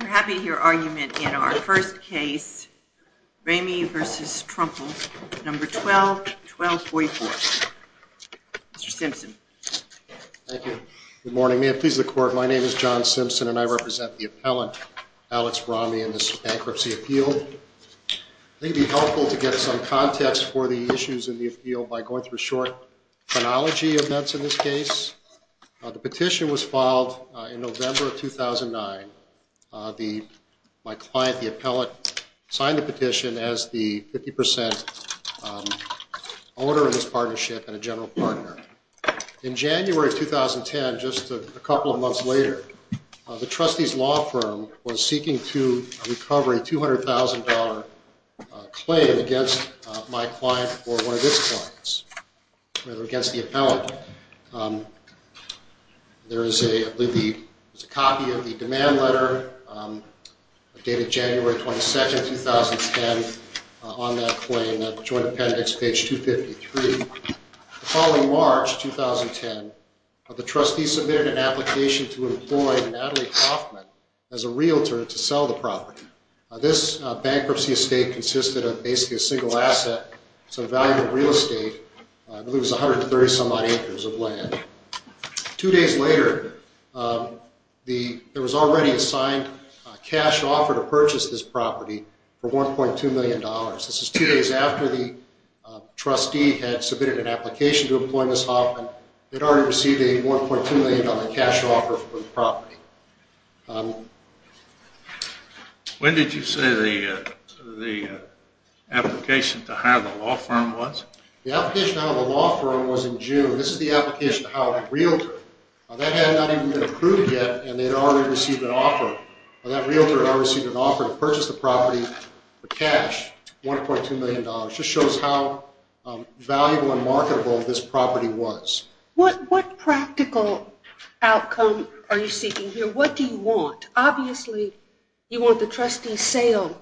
We're happy to hear argument in our first case, Ramey v. Trumble, No. 12-1244. Mr. Simpson. Thank you. Good morning. May it please the Court, my name is John Simpson and I represent the appellant, Alex Ramey, in this bankruptcy appeal. I think it would be helpful to get some context for the issues in the appeal by going through a short chronology of events in this case. The petition was filed in November of 2009. My client, the appellant, signed the petition as the 50% owner of this partnership and a general partner. In January of 2010, just a couple of months later, the trustee's law firm was seeking to recover a $200,000 claim against my client or one of his clients, against the appellant. There is a copy of the demand letter dated January 22, 2010, on that claim, Joint Appendix page 253. The following March 2010, the trustee submitted an application to employ Natalie Hoffman as a realtor to sell the property. This bankruptcy estate consisted of basically a single asset, so the value of real estate was 130-some odd acres of land. Two days later, there was already a signed cash offer to purchase this property for $1.2 million. This was two days after the trustee had submitted an application to employ Ms. Hoffman. They'd already received a $1.2 million cash offer for the property. When did you say the application to hire the law firm was? The application to hire the law firm was in June. This is the application to hire a realtor. That had not even been approved yet, and they'd already received an offer. That realtor had already received an offer to purchase the property for cash, $1.2 million. It just shows how valuable and marketable this property was. What practical outcome are you seeking here? What do you want? Obviously, you want the trustee's sale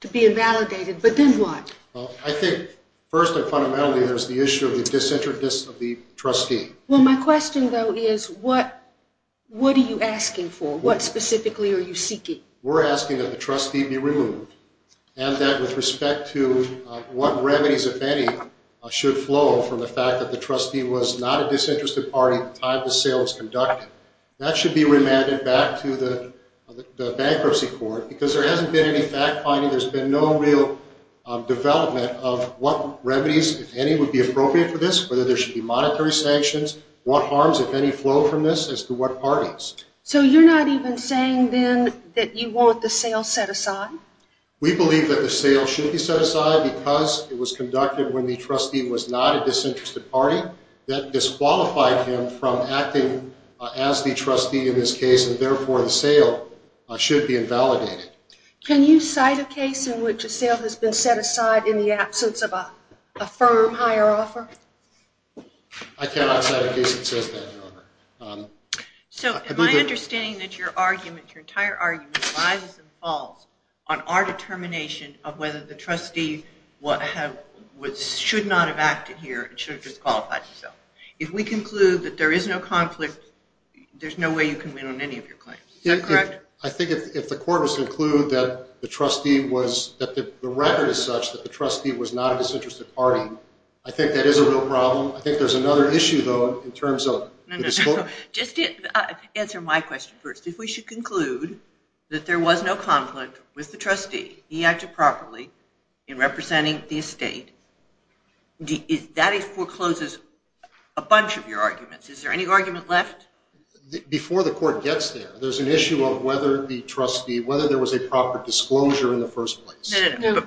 to be invalidated, but then what? I think, first and fundamentally, there's the issue of the disinterest of the trustee. My question, though, is what are you asking for? What specifically are you seeking? We're asking that the trustee be removed, and that with respect to what remedies, if any, should flow from the fact that the trustee was not a disinterested party at the time the sale was conducted. That should be remanded back to the bankruptcy court, because there hasn't been any fact-finding. There's been no real development of what remedies, if any, would be appropriate for this, whether there should be monetary sanctions, what harms, if any, flow from this as to what parties. So you're not even saying, then, that you want the sale set aside? We believe that the sale should be set aside because it was conducted when the trustee was not a disinterested party. That disqualified him from acting as the trustee in this case, and therefore the sale should be invalidated. Can you cite a case in which a sale has been set aside in the absence of a firm higher offer? I cannot cite a case that says that, Your Honor. So my understanding is that your argument, your entire argument, lies and falls on our determination of whether the trustee should not have acted here and should have disqualified himself. If we conclude that there is no conflict, there's no way you can win on any of your claims. Is that correct? I think if the court was to conclude that the record is such that the trustee was not a disinterested party, I think that is a real problem. I think there's another issue, though, in terms of the disqualification. Just answer my question first. If we should conclude that there was no conflict with the trustee, he acted properly in representing the estate, that forecloses a bunch of your arguments. Is there any argument left? Before the court gets there, there's an issue of whether there was a proper disclosure in the first place. No, no, no.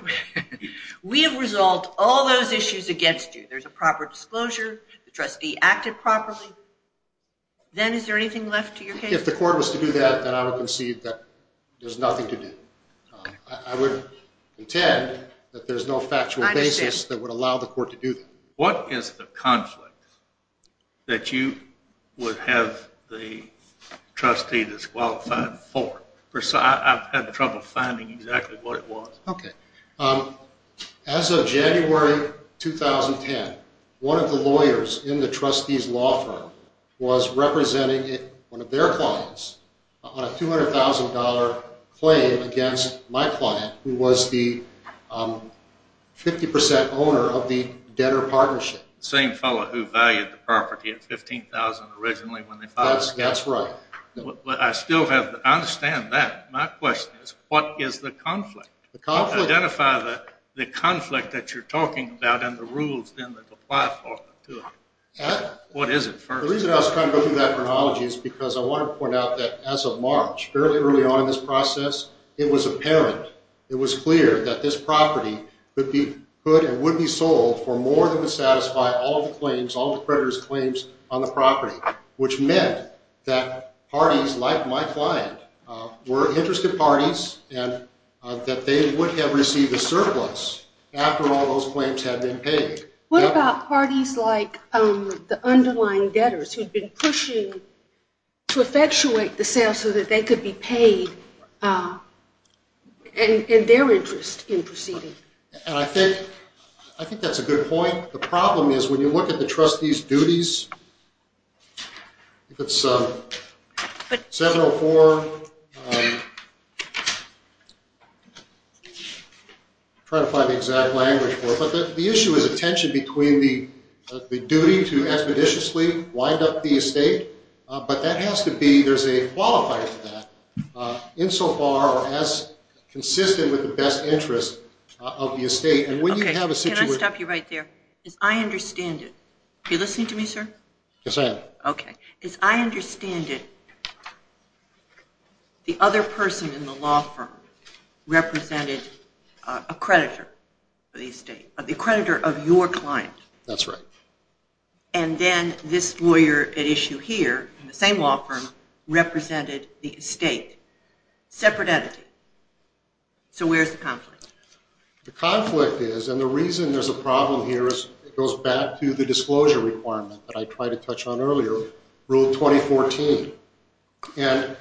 We have resolved all those issues against you. There's a proper disclosure, the trustee acted properly. Then is there anything left to your case? If the court was to do that, then I would concede that there's nothing to do. I would intend that there's no factual basis that would allow the court to do that. What is the conflict that you would have the trustee disqualified for? I've had trouble finding exactly what it was. Okay. As of January 2010, one of the lawyers in the trustee's law firm was representing one of their clients on a $200,000 claim against my client, who was the 50% owner of the debtor partnership. The same fellow who valued the property at $15,000 originally when they filed the case? That's right. I understand that. My question is, what is the conflict? Identify the conflict that you're talking about and the rules that apply to it. What is it? The reason I was trying to go through that chronology is because I want to point out that as of March, fairly early on in this process, it was apparent, it was clear that this property would be put and would be sold for more than would satisfy all the claims, all the creditor's claims on the property, which meant that parties like my client were interested parties and that they would have received a surplus after all those claims had been paid. What about parties like the underlying debtors who had been pushing to effectuate the sale so that they could be paid and their interest in proceeding? I think that's a good point. The problem is when you look at the trustee's duties, I think it's 704. I'm trying to find the exact language for it, but the issue is a tension between the duty to expeditiously wind up the estate, but there's a qualifier for that insofar or as consistent with the best interest of the estate. Can I stop you right there? I understand it. Are you listening to me, sir? Yes, I am. Okay. As I understand it, the other person in the law firm represented a creditor for the estate, the creditor of your client. That's right. And then this lawyer at issue here in the same law firm represented the estate, separate entity. So where's the conflict? The conflict is, and the reason there's a problem here is it goes back to the disclosure requirement that I tried to touch on earlier, Rule 2014. And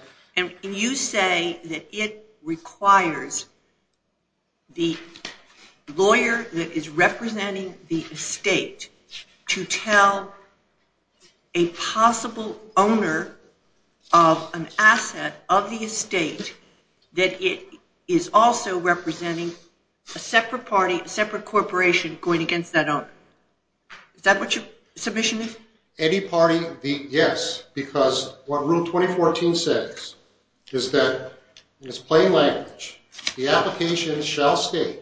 you say that it requires the lawyer that is representing the estate to tell a possible owner of an asset of the estate that it is also representing a separate corporation going against that owner. Is that what your submission is? Any party, yes, because what Rule 2014 says is that, in its plain language, the application shall state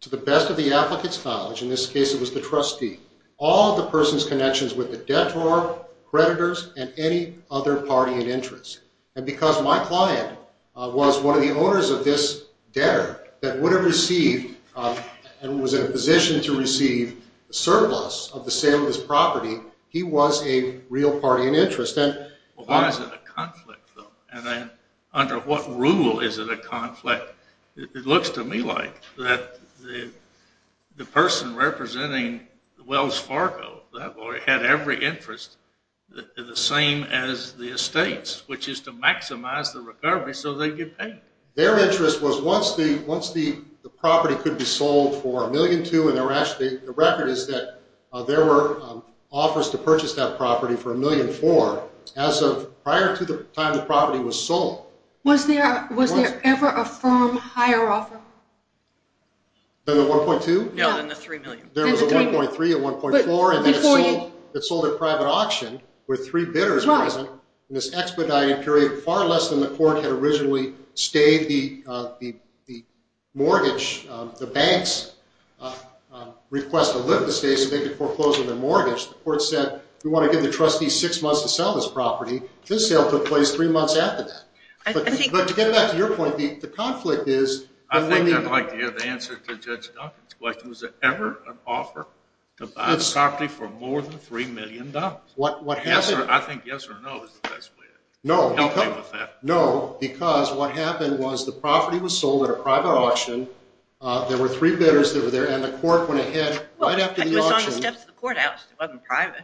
to the best of the applicant's knowledge, in this case it was the trustee, all of the person's connections with the debtor, creditors, and any other party in interest. And because my client was one of the owners of this debtor that would have received and was in a position to receive a surplus of the sale of this property, he was a real party in interest. Well, why is it a conflict, though? And then under what rule is it a conflict? It looks to me like that the person representing Wells Fargo, that lawyer, had every interest the same as the estates, which is to maximize the recovery so they get paid. Their interest was once the property could be sold for $1.2 million, and the record is that there were offers to purchase that property for $1.4 million, as of prior to the time the property was sold. Was there ever a firm higher offer? Than the $1.2 million? No, than the $3 million. There was a $1.3 million, a $1.4 million, and then it sold at private auction with three bidders present in this expedited period, far less than the court had originally stayed the mortgage, the bank's request to lift the estate so they could foreclose on their mortgage. The court said, we want to give the trustee six months to sell this property. This sale took place three months after that. But to get back to your point, the conflict is when the- I think I'd like to hear the answer to Judge Duncan's question. Was there ever an offer to buy the property for more than $3 million? I think yes or no is the best way to help him with that. No, because what happened was the property was sold at a private auction. There were three bidders that were there, and the court went ahead right after the auction- It was on the steps of the courthouse. It wasn't private.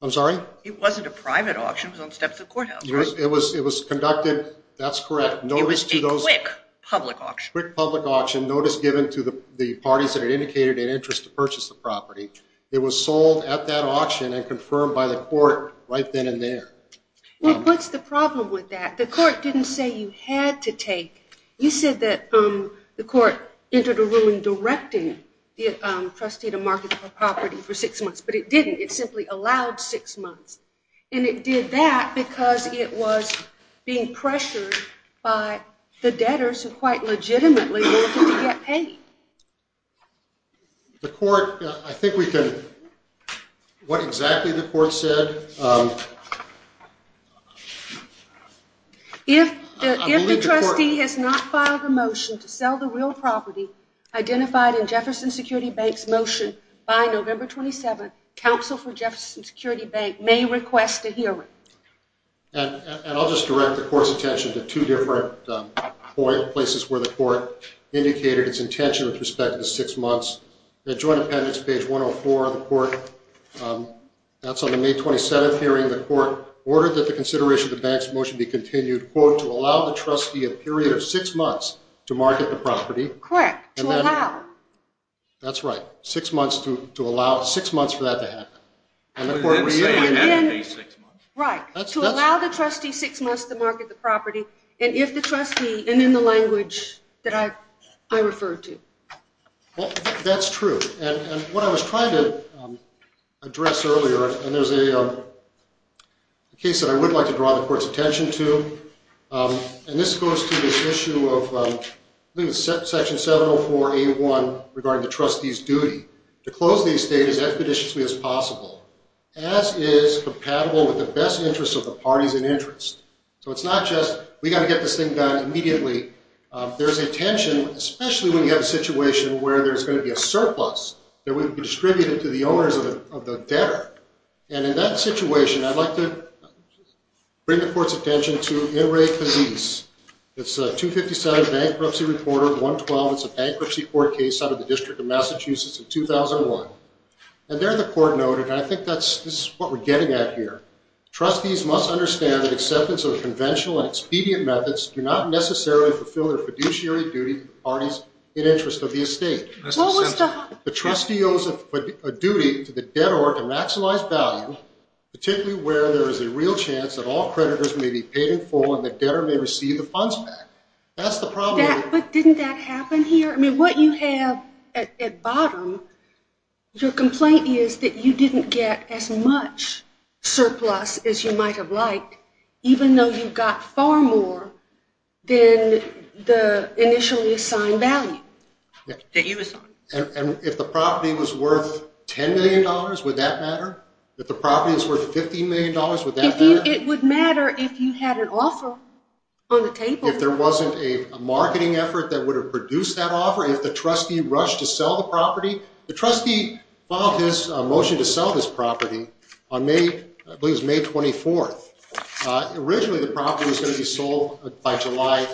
I'm sorry? It wasn't a private auction. It was on the steps of the courthouse. It was conducted-that's correct. It was a quick public auction. A quick public auction, notice given to the parties that had indicated an interest to purchase the property. It was sold at that auction and confirmed by the court right then and there. Well, what's the problem with that? The court didn't say you had to take. You said that the court entered a ruling directing the trustee to market the property for six months, but it didn't. It simply allowed six months. And it did that because it was being pressured by the debtors who quite legitimately wanted to get paid. The court-I think we can-what exactly the court said- If the trustee has not filed a motion to sell the real property identified in Jefferson Security Bank's motion by November 27th, counsel for Jefferson Security Bank may request a hearing. And I'll just direct the court's attention to two different places where the court indicated its intention with respect to six months. The joint appendix, page 104 of the court-that's on the May 27th hearing. The court ordered that the consideration of the bank's motion be continued, quote, to allow the trustee a period of six months to market the property. Correct. To allow. That's right. Six months to allow-six months for that to happen. Right. To allow the trustee six months to market the property, and if the trustee-and in the language that I referred to. Well, that's true. And what I was trying to address earlier, and there's a case that I would like to draw the court's attention to, and this goes to this issue of Section 704A1 regarding the trustee's duty to close the estate as expeditiously as possible. As is compatible with the best interests of the parties in interest. So it's not just we've got to get this thing done immediately. There's a tension, especially when you have a situation where there's going to be a surplus that would be distributed to the owners of the debtor. And in that situation, I'd like to bring the court's attention to In Re Physis. It's 257 Bankruptcy Reporter 112. It's a bankruptcy court case out of the District of Massachusetts in 2001. And there the court noted, and I think this is what we're getting at here, trustees must understand that acceptance of conventional and expedient methods do not necessarily fulfill their fiduciary duty to the parties in interest of the estate. The trustee owes a duty to the debtor to maximize value, particularly where there is a real chance that all creditors may be paid in full and the debtor may receive the funds back. That's the problem. But didn't that happen here? I mean, what you have at bottom, your complaint is that you didn't get as much surplus as you might have liked, even though you got far more than the initially assigned value. And if the property was worth $10 million, would that matter? If the property was worth $15 million, would that matter? It would matter if you had an offer on the table. If there wasn't a marketing effort that would have produced that offer, if the trustee rushed to sell the property. The trustee filed his motion to sell this property on May 24th. Originally the property was going to be sold by July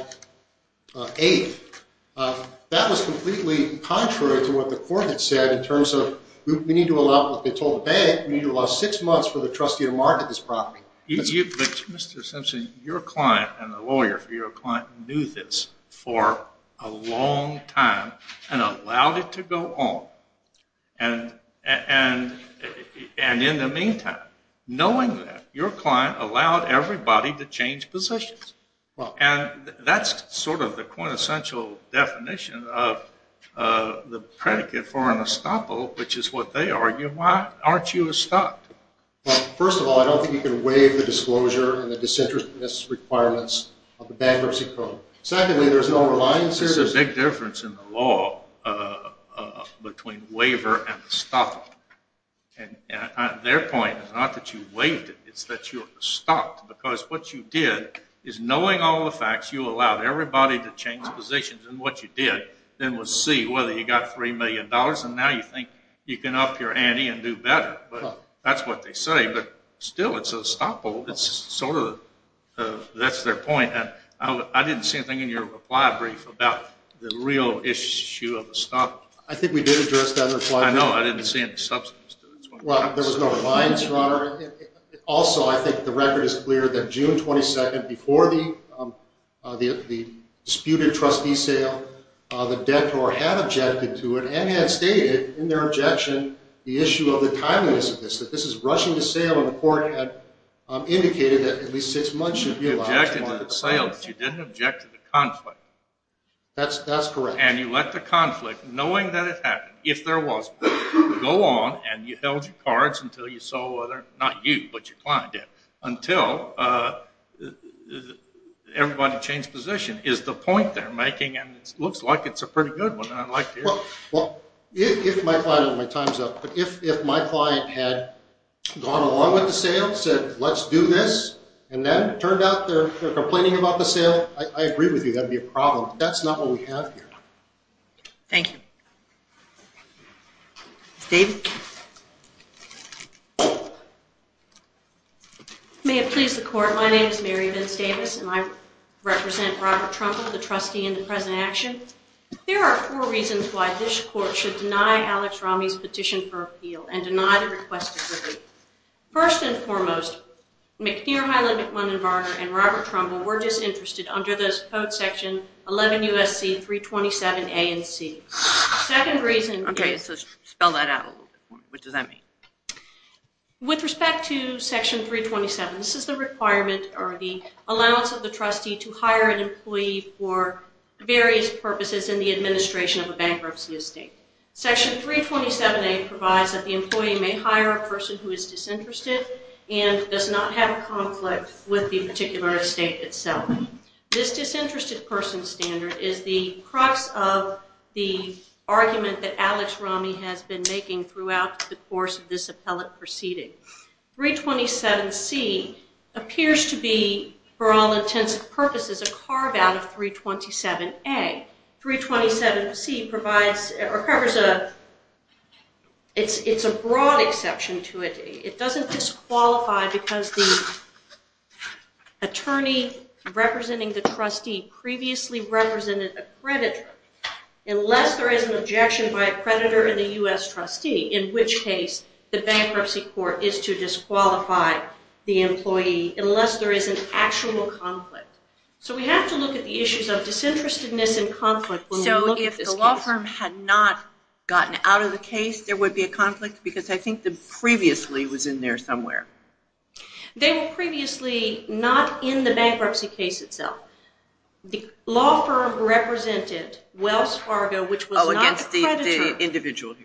8th. That was completely contrary to what the court had said in terms of we need to allow, like they told the bank, we need to allow six months for the trustee to market this property. Mr. Simpson, your client and the lawyer for your client knew this for a long time and allowed it to go on. And in the meantime, knowing that, your client allowed everybody to change positions. And that's sort of the quintessential definition of the predicate for an estoppel, which is what they argue. Why aren't you estopped? First of all, I don't think you can waive the disclosure and the disinterestedness requirements of the bankruptcy code. Secondly, there's no reliance. There's a big difference in the law between waiver and estoppel. And their point is not that you waived it, it's that you're estopped. Because what you did is, knowing all the facts, you allowed everybody to change positions. And what you did then was see whether you got $3 million, and now you think you can up your ante and do better. That's what they say. But still, it's estoppel. That's their point. And I didn't see anything in your reply brief about the real issue of estoppel. I think we did address that in the reply brief. I know. I didn't see any substance to it. Well, there was no reliance, Your Honor. Also, I think the record is clear that June 22nd, before the disputed trustee sale, the debtor had objected to it and had stated in their objection the issue of the timeliness of this, that this is rushing to sale, and the court had indicated that at least six months should be allowed. You objected to the sale, but you didn't object to the conflict. That's correct. And you let the conflict, knowing that it happened, if there was one, go on and you held your cards until you saw whether, not you, but your client did, until everybody changed position, is the point they're making. And it looks like it's a pretty good one, and I'd like to hear it. Well, if my client had gone along with the sale, said, let's do this, and then it turned out they're complaining about the sale, I agree with you. That would be a problem. But that's not what we have here. Thank you. Ms. Davis? May it please the Court, my name is Mary Vince Davis, and I represent Robert Trumka, the trustee in the present action. There are four reasons why this court should deny Alex Ramey's petition for appeal and deny the request of relief. First and foremost, McNeer, Highland, McMunn, and Varner, and Robert Trumka, were disinterested under this code section 11 U.S.C. 327 A and C. Okay, so spell that out a little bit more. What does that mean? With respect to section 327, this is the requirement or the allowance of the trustee to hire an employee for various purposes in the administration of a bankruptcy estate. Section 327 A provides that the employee may hire a person who is disinterested and does not have a conflict with the particular estate itself. This disinterested person standard is the crux of the argument that Alex Ramey has been making throughout the course of this appellate proceeding. 327 C appears to be, for all intents and purposes, a carve-out of 327 A. 327 C provides or covers a, it's a broad exception to it. It doesn't disqualify because the attorney representing the trustee previously represented a creditor unless there is an objection by a creditor and the U.S. trustee in which case the bankruptcy court is to disqualify the employee unless there is an actual conflict. So we have to look at the issues of disinterestedness and conflict when we look at this case. So if the law firm had not gotten out of the case, there would be a conflict? Because I think the previously was in there somewhere. They were previously not in the bankruptcy case itself. The law firm represented Wells Fargo, which was not the creditor,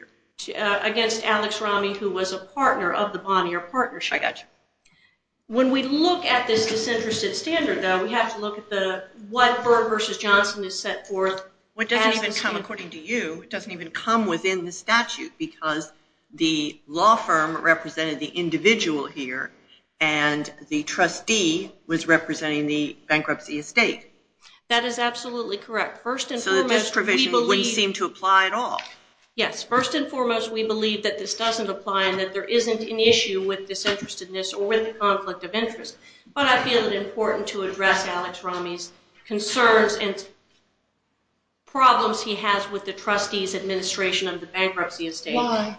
against Alex Ramey, who was a partner of the Bonnier Partnership. I got you. When we look at this disinterested standard, though, we have to look at what Berg v. Johnson has set forth. It doesn't even come, according to you, it doesn't even come within the statute because the law firm represented the individual here and the trustee was representing the bankruptcy estate. That is absolutely correct. So the disprovision wouldn't seem to apply at all. Yes. First and foremost, we believe that this doesn't apply and that there isn't an issue with disinterestedness or with the conflict of interest. But I feel it important to address Alex Ramey's concerns and problems he has with the trustee's administration of the bankruptcy estate. Why?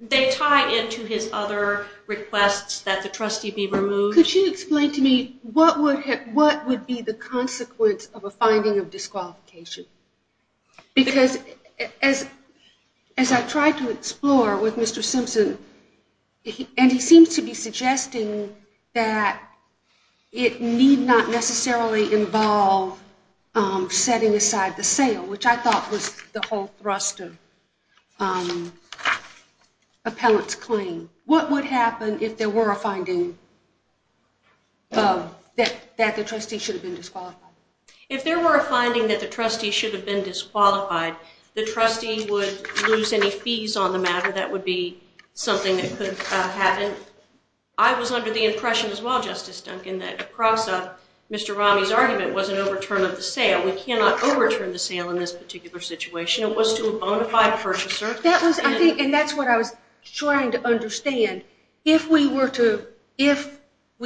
They tie into his other requests that the trustee be removed. Could you explain to me what would be the consequence of a finding of disqualification? Because as I tried to explore with Mr. Simpson, and he seems to be suggesting that it need not necessarily involve setting aside the sale, which I thought was the whole thrust of appellant's claim. What would happen if there were a finding that the trustee should have been disqualified? If there were a finding that the trustee should have been disqualified, the trustee would lose any fees on the matter. That would be something that could happen. I was under the impression as well, Justice Duncan, that across Mr. Ramey's argument was an overturn of the sale. We cannot overturn the sale in this particular situation. It was to a bona fide purchaser. And that's what I was trying to understand. If we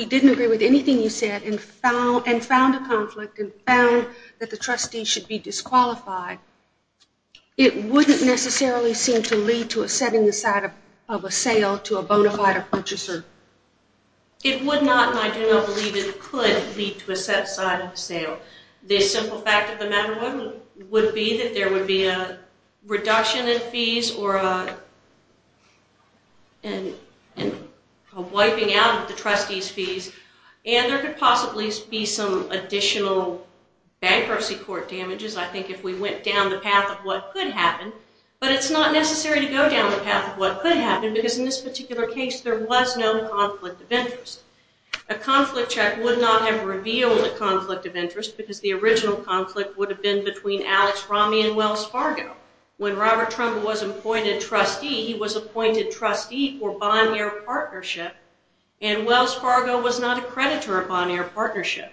didn't agree with anything you said and found a conflict and found that the trustee should be disqualified, it wouldn't necessarily seem to lead to a setting aside of a sale to a bona fide purchaser. It would not, and I do not believe it could lead to a set aside of a sale. The simple fact of the matter would be that there would be a reduction in fees or a wiping out of the trustee's fees, and there could possibly be some additional bankruptcy court damages, I think, if we went down the path of what could happen. But it's not necessary to go down the path of what could happen A conflict check would not have revealed a conflict of interest because the original conflict would have been between Alex Ramey and Wells Fargo. When Robert Trumbull was appointed trustee, he was appointed trustee for Bonaire Partnership, and Wells Fargo was not a creditor of Bonaire Partnership.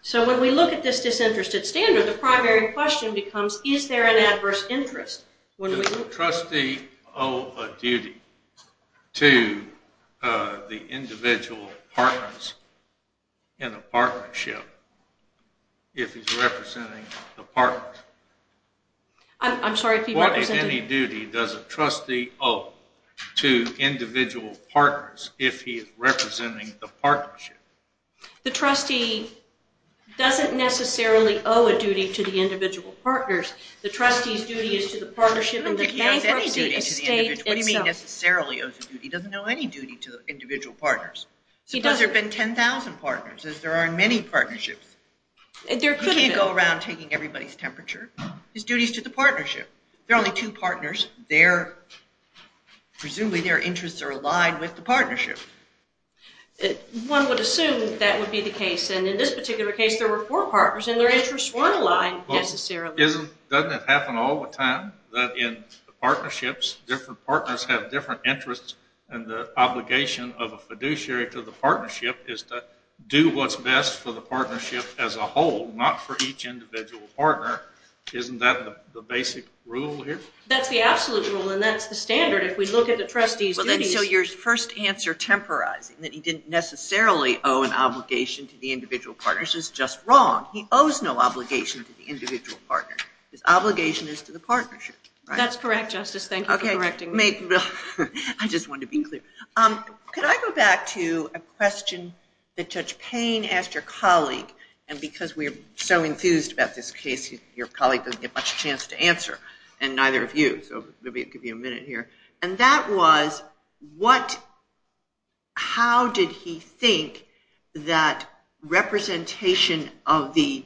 So when we look at this disinterested standard, the primary question becomes, is there an adverse interest? Does a trustee owe a duty to the individual partners in a partnership if he's representing the partners? I'm sorry, if he represented... What, if any, duty does a trustee owe to individual partners if he is representing the partnership? The trustee doesn't necessarily owe a duty to the individual partners. The trustee's duty is to the partnership and the bankruptcy estate itself. What do you mean necessarily owes a duty? He doesn't owe any duty to the individual partners. Suppose there have been 10,000 partners, as there are in many partnerships. He can't go around taking everybody's temperature. His duty is to the partnership. There are only two partners. Presumably their interests are aligned with the partnership. One would assume that would be the case, and in this particular case there were four partners and their interests weren't aligned necessarily. Doesn't it happen all the time that in partnerships, different partners have different interests and the obligation of a fiduciary to the partnership is to do what's best for the partnership as a whole, not for each individual partner? Isn't that the basic rule here? That's the absolute rule, and that's the standard. If we look at the trustee's duties... So your first answer, temporizing, that he didn't necessarily owe an obligation to the individual partners is just wrong. He owes no obligation to the individual partners. His obligation is to the partnership. That's correct, Justice. Thank you for correcting me. I just wanted to be clear. Could I go back to a question that touched pain, asked your colleague, and because we're so enthused about this case, your colleague doesn't get much chance to answer, and neither have you, so maybe I'll give you a minute here. And that was, how did he think that representation of the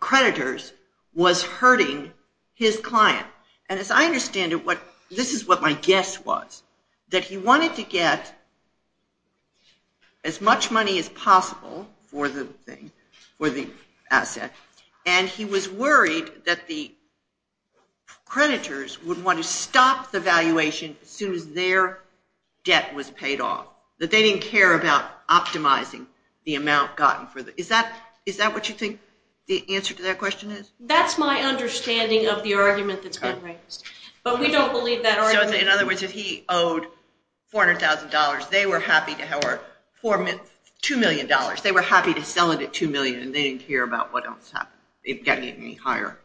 creditors was hurting his client? And as I understand it, this is what my guess was, that he wanted to get as much money as possible for the asset, and he was worried that the creditors would want to stop the valuation as soon as their debt was paid off, that they didn't care about optimizing the amount gotten. Is that what you think the answer to that question is? That's my understanding of the argument that's been raised, but we don't believe that argument. So in other words, if he owed $400,000, they were happy to have our $2 million. They were happy to sell it at $2 million, and they didn't care about what else happened, getting any higher.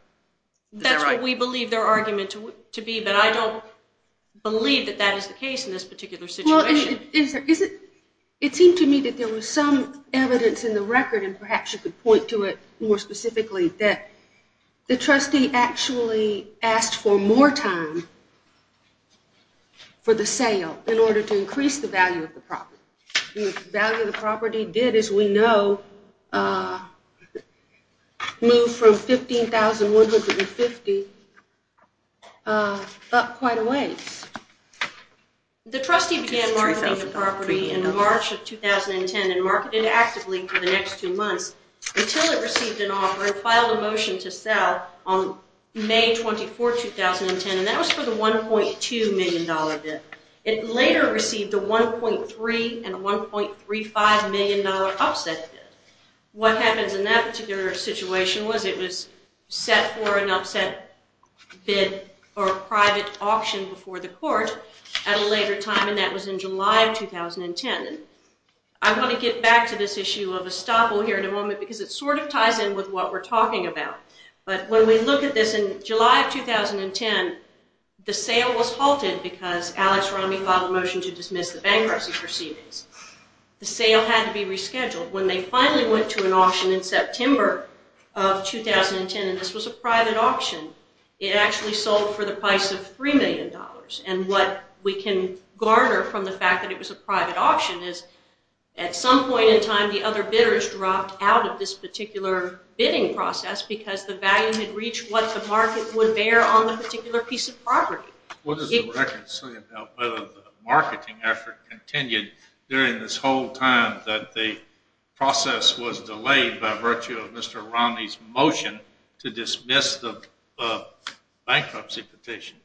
That's what we believe their argument to be, but I don't believe that that is the case in this particular situation. It seemed to me that there was some evidence in the record, and perhaps you could point to it more specifically, that the trustee actually asked for more time for the sale in order to increase the value of the property. The value of the property did, as we know, move from $15,150 up quite a ways. The trustee began marketing the property in March of 2010 and marketed actively for the next two months until it received an offer and filed a motion to sell on May 24, 2010, and that was for the $1.2 million debt. It later received a $1.3 and a $1.35 million upset bid. What happens in that particular situation was it was set for an upset bid or a private auction before the court at a later time, and that was in July of 2010. I want to get back to this issue of estoppel here in a moment because it sort of ties in with what we're talking about, but when we look at this in July of 2010, the sale was halted because Alex Romney filed a motion to dismiss the bankruptcy proceedings. The sale had to be rescheduled. When they finally went to an auction in September of 2010, and this was a private auction, it actually sold for the price of $3 million, and what we can garner from the fact that it was a private auction is at some point in time the other bidders dropped out of this particular bidding process because the value had reached what the market would bear on the particular piece of property. What does the record say about whether the marketing effort continued during this whole time that the process was delayed by virtue of Mr. Romney's motion to dismiss the bankruptcy petition?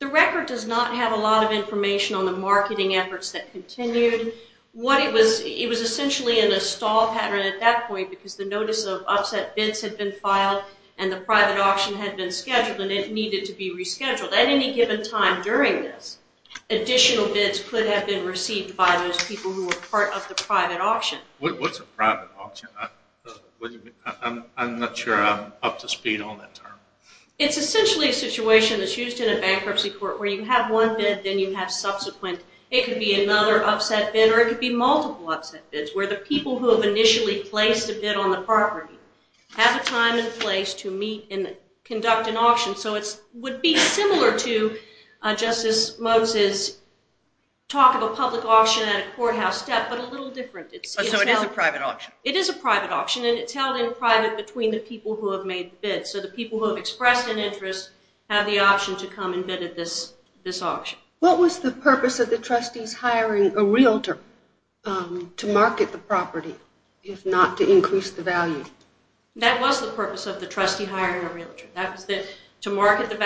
The record does not have a lot of information on the marketing efforts that continued. It was essentially in a stall pattern at that point because the notice of upset bids had been filed and the private auction had been scheduled and it needed to be rescheduled. At any given time during this, additional bids could have been received by those people who were part of the private auction. What's a private auction? I'm not sure I'm up to speed on that term. It's essentially a situation that's used in a bankruptcy court where you have one bid, then you have subsequent. It could be another upset bid or it could be multiple upset bids where the people who have initially placed a bid on the property have a time and place to meet and conduct an auction. So it would be similar to Justice Moses' talk of a public auction at a courthouse step but a little different. So it is a private auction? It is a private auction and it's held in private between the people who have made the bid. So the people who have expressed an interest have the option to come and bid at this auction. What was the purpose of the trustees hiring a realtor to market the property if not to increase the value? That was the purpose of the trustee hiring a realtor. That was to market the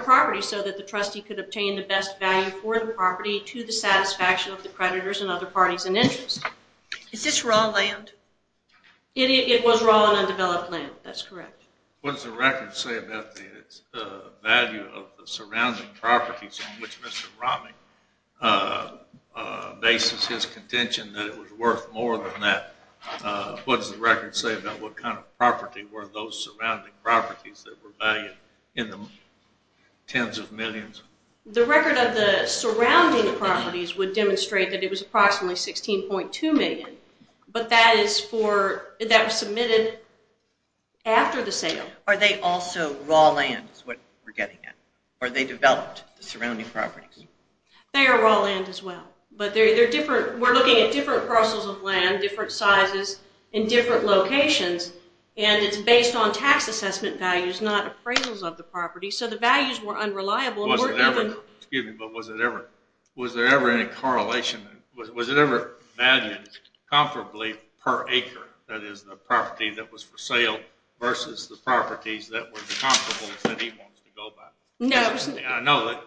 property so that the trustee could obtain the best value for the property to the satisfaction of the creditors and other parties in interest. Is this raw land? It was raw and undeveloped land. That's correct. What does the record say about the value of the surrounding properties on which Mr. Romney bases his contention that it was worth more than that? What does the record say about what kind of property were those surrounding properties that were valued in the tens of millions? The record of the surrounding properties would demonstrate that it was approximately $16.2 million, but that was submitted after the sale. Are they also raw land is what we're getting at? Or they developed the surrounding properties? They are raw land as well, but we're looking at different parcels of land, different sizes in different locations, and it's based on tax assessment values, not appraisals of the property. So the values were unreliable. Was there ever any correlation? Was it ever valued comparably per acre, that is, the property that was for sale versus the properties that were the comparables that he wants to go by? No. I know that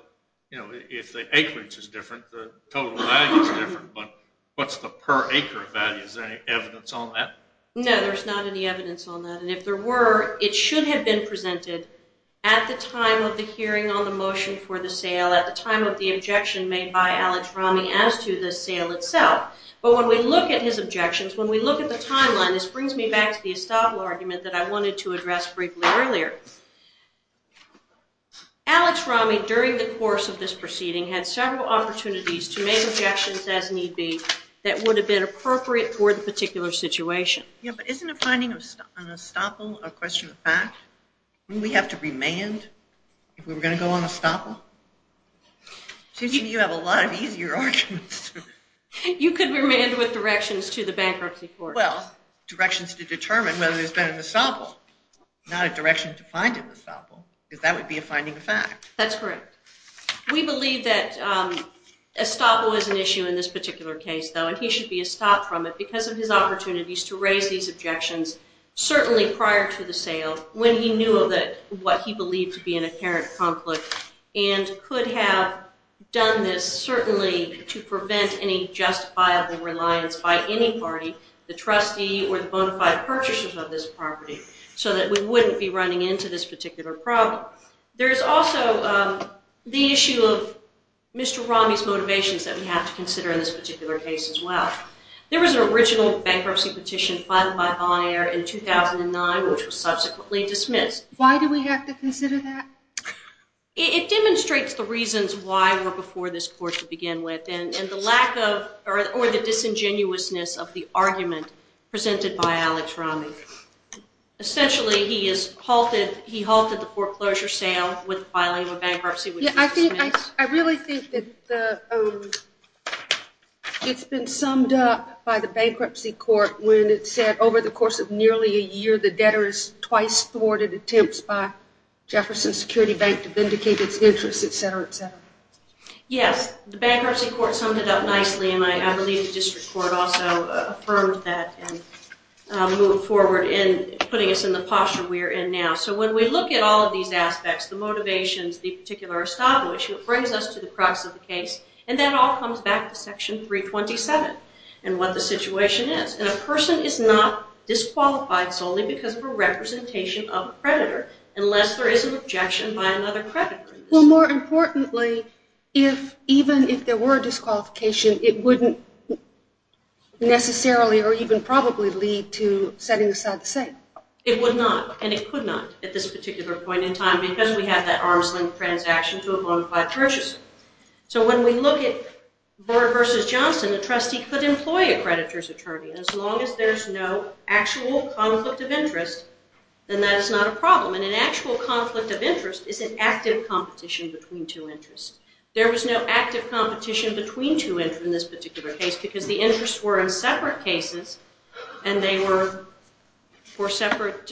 if the acreage is different, the total value is different, but what's the per acre value? Is there any evidence on that? No, there's not any evidence on that. And if there were, it should have been presented at the time of the hearing on the motion for the sale, at the time of the objection made by Alex Romney as to the sale itself. But when we look at his objections, when we look at the timeline, this brings me back to the estoppel argument that I wanted to address briefly earlier. Alex Romney, during the course of this proceeding, had several opportunities to make objections as need be that would have been appropriate for the particular situation. Yeah, but isn't a finding on estoppel a question of fact? Wouldn't we have to remand if we were going to go on estoppel? Seems to me you have a lot of easier arguments. You could remand with directions to the bankruptcy court. Well, directions to determine whether there's been an estoppel, not a direction to find an estoppel, because that would be a finding of fact. That's correct. We believe that estoppel is an issue in this particular case, though, and he should be estopped from it because of his opportunities to raise these objections, certainly prior to the sale, when he knew of what he believed to be an apparent conflict and could have done this certainly to prevent any justifiable reliance by any party, the trustee or the bona fide purchasers of this property, so that we wouldn't be running into this particular problem. There is also the issue of Mr. Romney's motivations that we have to consider in this particular case as well. There was an original bankruptcy petition filed by Bonaire in 2009 which was subsequently dismissed. Why do we have to consider that? It demonstrates the reasons why we're before this court to begin with and the lack of or the disingenuousness of the argument presented by Alex Romney. Essentially, he halted the foreclosure sale with filing a bankruptcy which was dismissed. I really think that it's been summed up by the bankruptcy court when it said over the course of nearly a year, the debtor's twice thwarted attempts by Jefferson Security Bank Yes, the bankruptcy court summed it up nicely and I believe the district court also affirmed that and moved forward in putting us in the posture we're in now. When we look at all of these aspects, the motivations, the particular establishment, it brings us to the crux of the case and that all comes back to Section 327 and what the situation is. A person is not disqualified solely because of a representation of a creditor unless there is an objection by another creditor. Well, more importantly, even if there were disqualification, it wouldn't necessarily or even probably lead to setting aside the same. It would not and it could not at this particular point in time because we have that arm's length transaction to a bona fide purchase. So when we look at Brewer v. Johnson, the trustee could employ a creditor's attorney as long as there's no actual conflict of interest, then that is not a problem and an actual conflict of interest is an active competition between two interests. There was no active competition between two interests in this particular case because the interests were in separate cases and they were for separate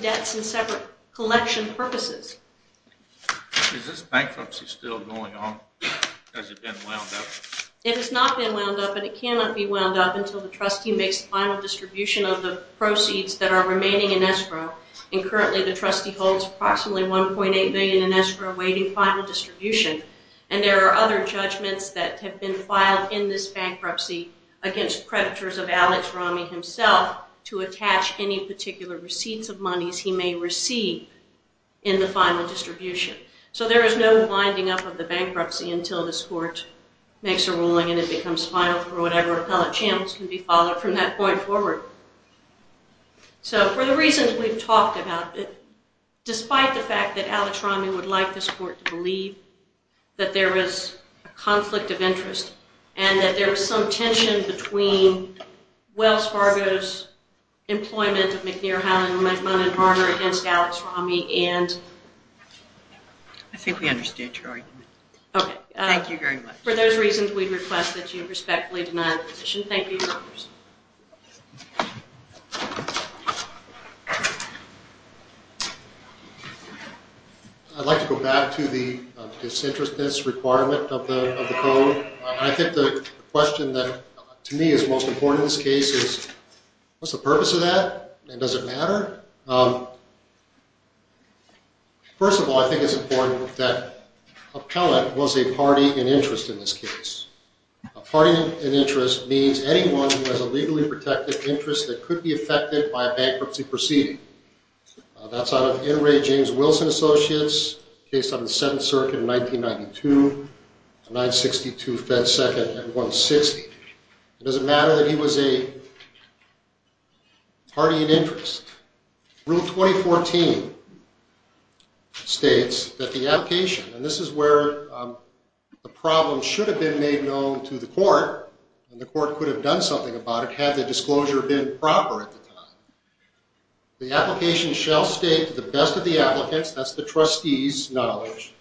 debts and separate collection purposes. Is this bankruptcy still going on? Has it been wound up? It has not been wound up and it cannot be wound up until the trustee makes the final distribution of the proceeds that are remaining in escrow. And currently the trustee holds approximately $1.8 million in escrow awaiting final distribution. And there are other judgments that have been filed in this bankruptcy against creditors of Alex Ramey himself to attach any particular receipts of monies he may receive in the final distribution. So there is no winding up of the bankruptcy until this court makes a ruling and it becomes final for whatever appellate channels can be followed from that point forward. So for the reasons we've talked about, despite the fact that Alex Ramey would like this court to believe that there is a conflict of interest and that there is some tension between Wells Fargo's employment of McNair, Houghton, McMunn and Varner against Alex Ramey and... I think we understood your argument. Thank you very much. For those reasons we request that you respectfully deny the position. Thank you. I'd like to go back to the disinterestedness requirement of the code. I think the question that to me is most important in this case is, what's the purpose of that and does it matter? First of all, I think it's important that appellate was a party in interest in this case. A party in interest means anyone who has a legally protected interest that could be affected by a bankruptcy proceeding. That's out of N. Ray James Wilson Associates, case on the 7th circuit in 1992, 962 Fed 2nd at 160. It doesn't matter that he was a party in interest. Rule 2014 states that the application, and this is where the problem should have been made known to the court, and the court could have done something about it had the disclosure been proper at the time. The application shall state to the best of the applicants, that's the trustee's knowledge,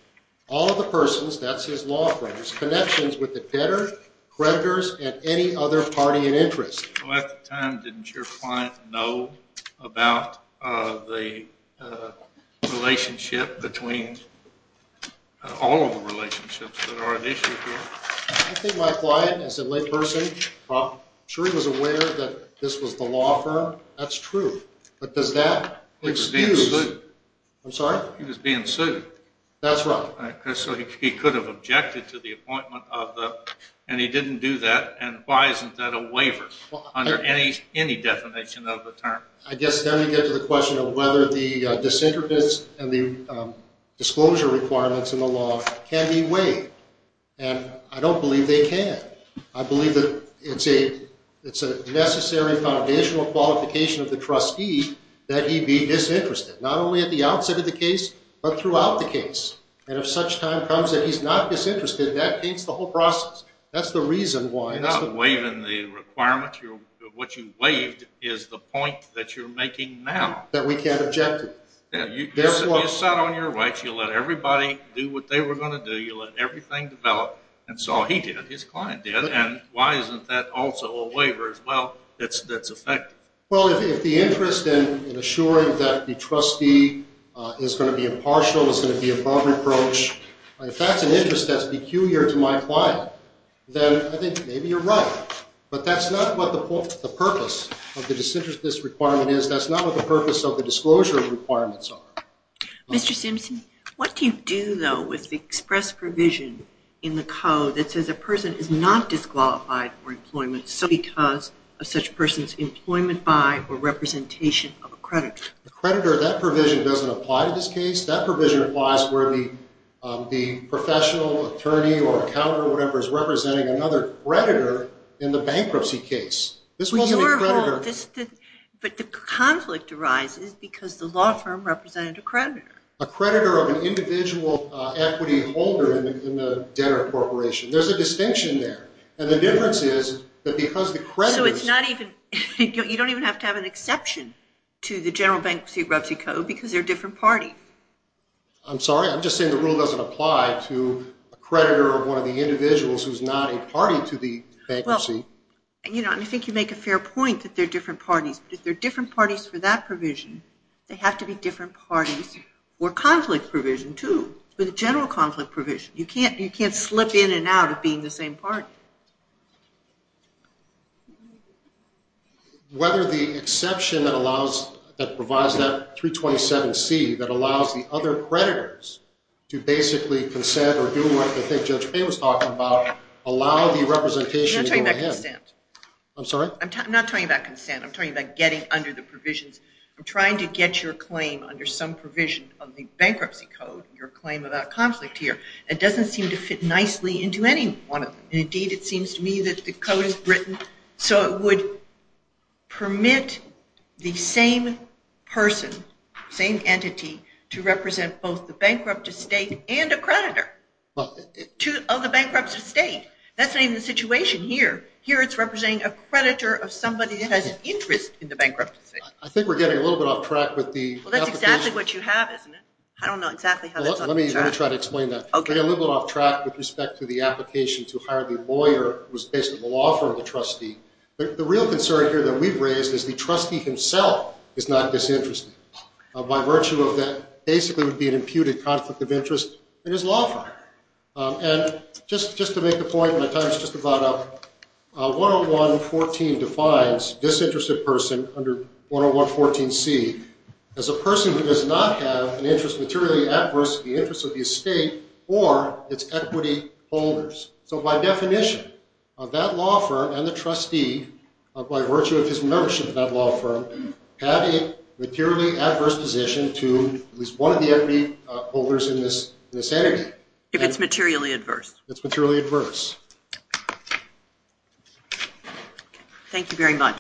all of the persons, that's his law firms, connections with the debtors, creditors, and any other party in interest. At the time, didn't your client know about the relationship between all of the relationships that are at issue here? I think my client, as a lay person, I'm sure he was aware that this was the law firm. That's true. But does that excuse... He was being sued. I'm sorry? He was being sued. That's right. So he could have objected to the appointment, and he didn't do that, and why isn't that a waiver under any definition of the term? I guess then you get to the question of whether the disinterference and the disclosure requirements in the law can be waived, and I don't believe they can. I believe that it's a necessary foundational qualification of the trustee that he be disinterested, not only at the outset of the case, but throughout the case. And if such time comes that he's not disinterested, that paints the whole process. That's the reason why. Not waiving the requirements. What you waived is the point that you're making now. That we can't object to. You sat on your rights. You let everybody do what they were going to do. You let everything develop, and so he did. His client did, and why isn't that also a waiver as well that's effective? Well, if the interest in assuring that the trustee is going to be impartial, is going to be above reproach, if that's an interest that's peculiar to my client, then I think maybe you're right. But that's not what the purpose of the disinterestedness requirement is. That's not what the purpose of the disclosure requirements are. Mr. Simpson, what do you do, though, with the express provision in the code that says a person is not disqualified for employment simply because of such person's employment by or representation of a creditor? A creditor, that provision doesn't apply to this case. That provision applies where the professional attorney or accountant or whatever is representing another creditor in the bankruptcy case. This wasn't a creditor. But the conflict arises because the law firm represented a creditor. A creditor of an individual equity holder in the debtor corporation. There's a distinction there. And the difference is that because the creditor is... So it's not even... You don't even have to have an exception to the general bankruptcy code because they're a different party. I'm sorry? I'm just saying the rule doesn't apply to a creditor of one of the individuals who's not a party to the bankruptcy. Well, I think you make a fair point that they're different parties. But if they're different parties for that provision, they have to be different parties for conflict provision, too, for the general conflict provision. You can't slip in and out of being the same party. Whether the exception that provides that 327C that allows the other creditors to basically consent or do what I think Judge Payne was talking about, allow the representation to go to him. I'm not talking about consent. I'm sorry? I'm not talking about consent. I'm talking about getting under the provisions. I'm trying to get your claim under some provision of the bankruptcy code, your claim about conflict here. It doesn't seem to fit nicely into any one of them. Indeed, it seems to me that the code is written so it would permit the same person, same entity, to represent both the bankrupt estate and a creditor of the bankrupt estate. That's not even the situation here. Here it's representing a creditor of somebody that has an interest in the bankrupt estate. I think we're getting a little bit off track with the application. That's exactly what you have, isn't it? I don't know exactly how that's off track. Let me try to explain that. We're getting a little bit off track with respect to the application to hire the lawyer who's basically the law firm, the trustee. The real concern here that we've raised is the trustee himself is not disinterested. By virtue of that, basically, it would be an imputed conflict of interest in his law firm. And just to make a point, and my time is just about up, 101.14 defines disinterested person under 101.14C as a person who does not have an interest materially adverse to the interest of the estate or its equity holders. So by definition, that law firm and the trustee, by virtue of his membership in that law firm, have a materially adverse position to at least one of the equity holders in this entity. If it's materially adverse. If it's materially adverse. Thank you very much.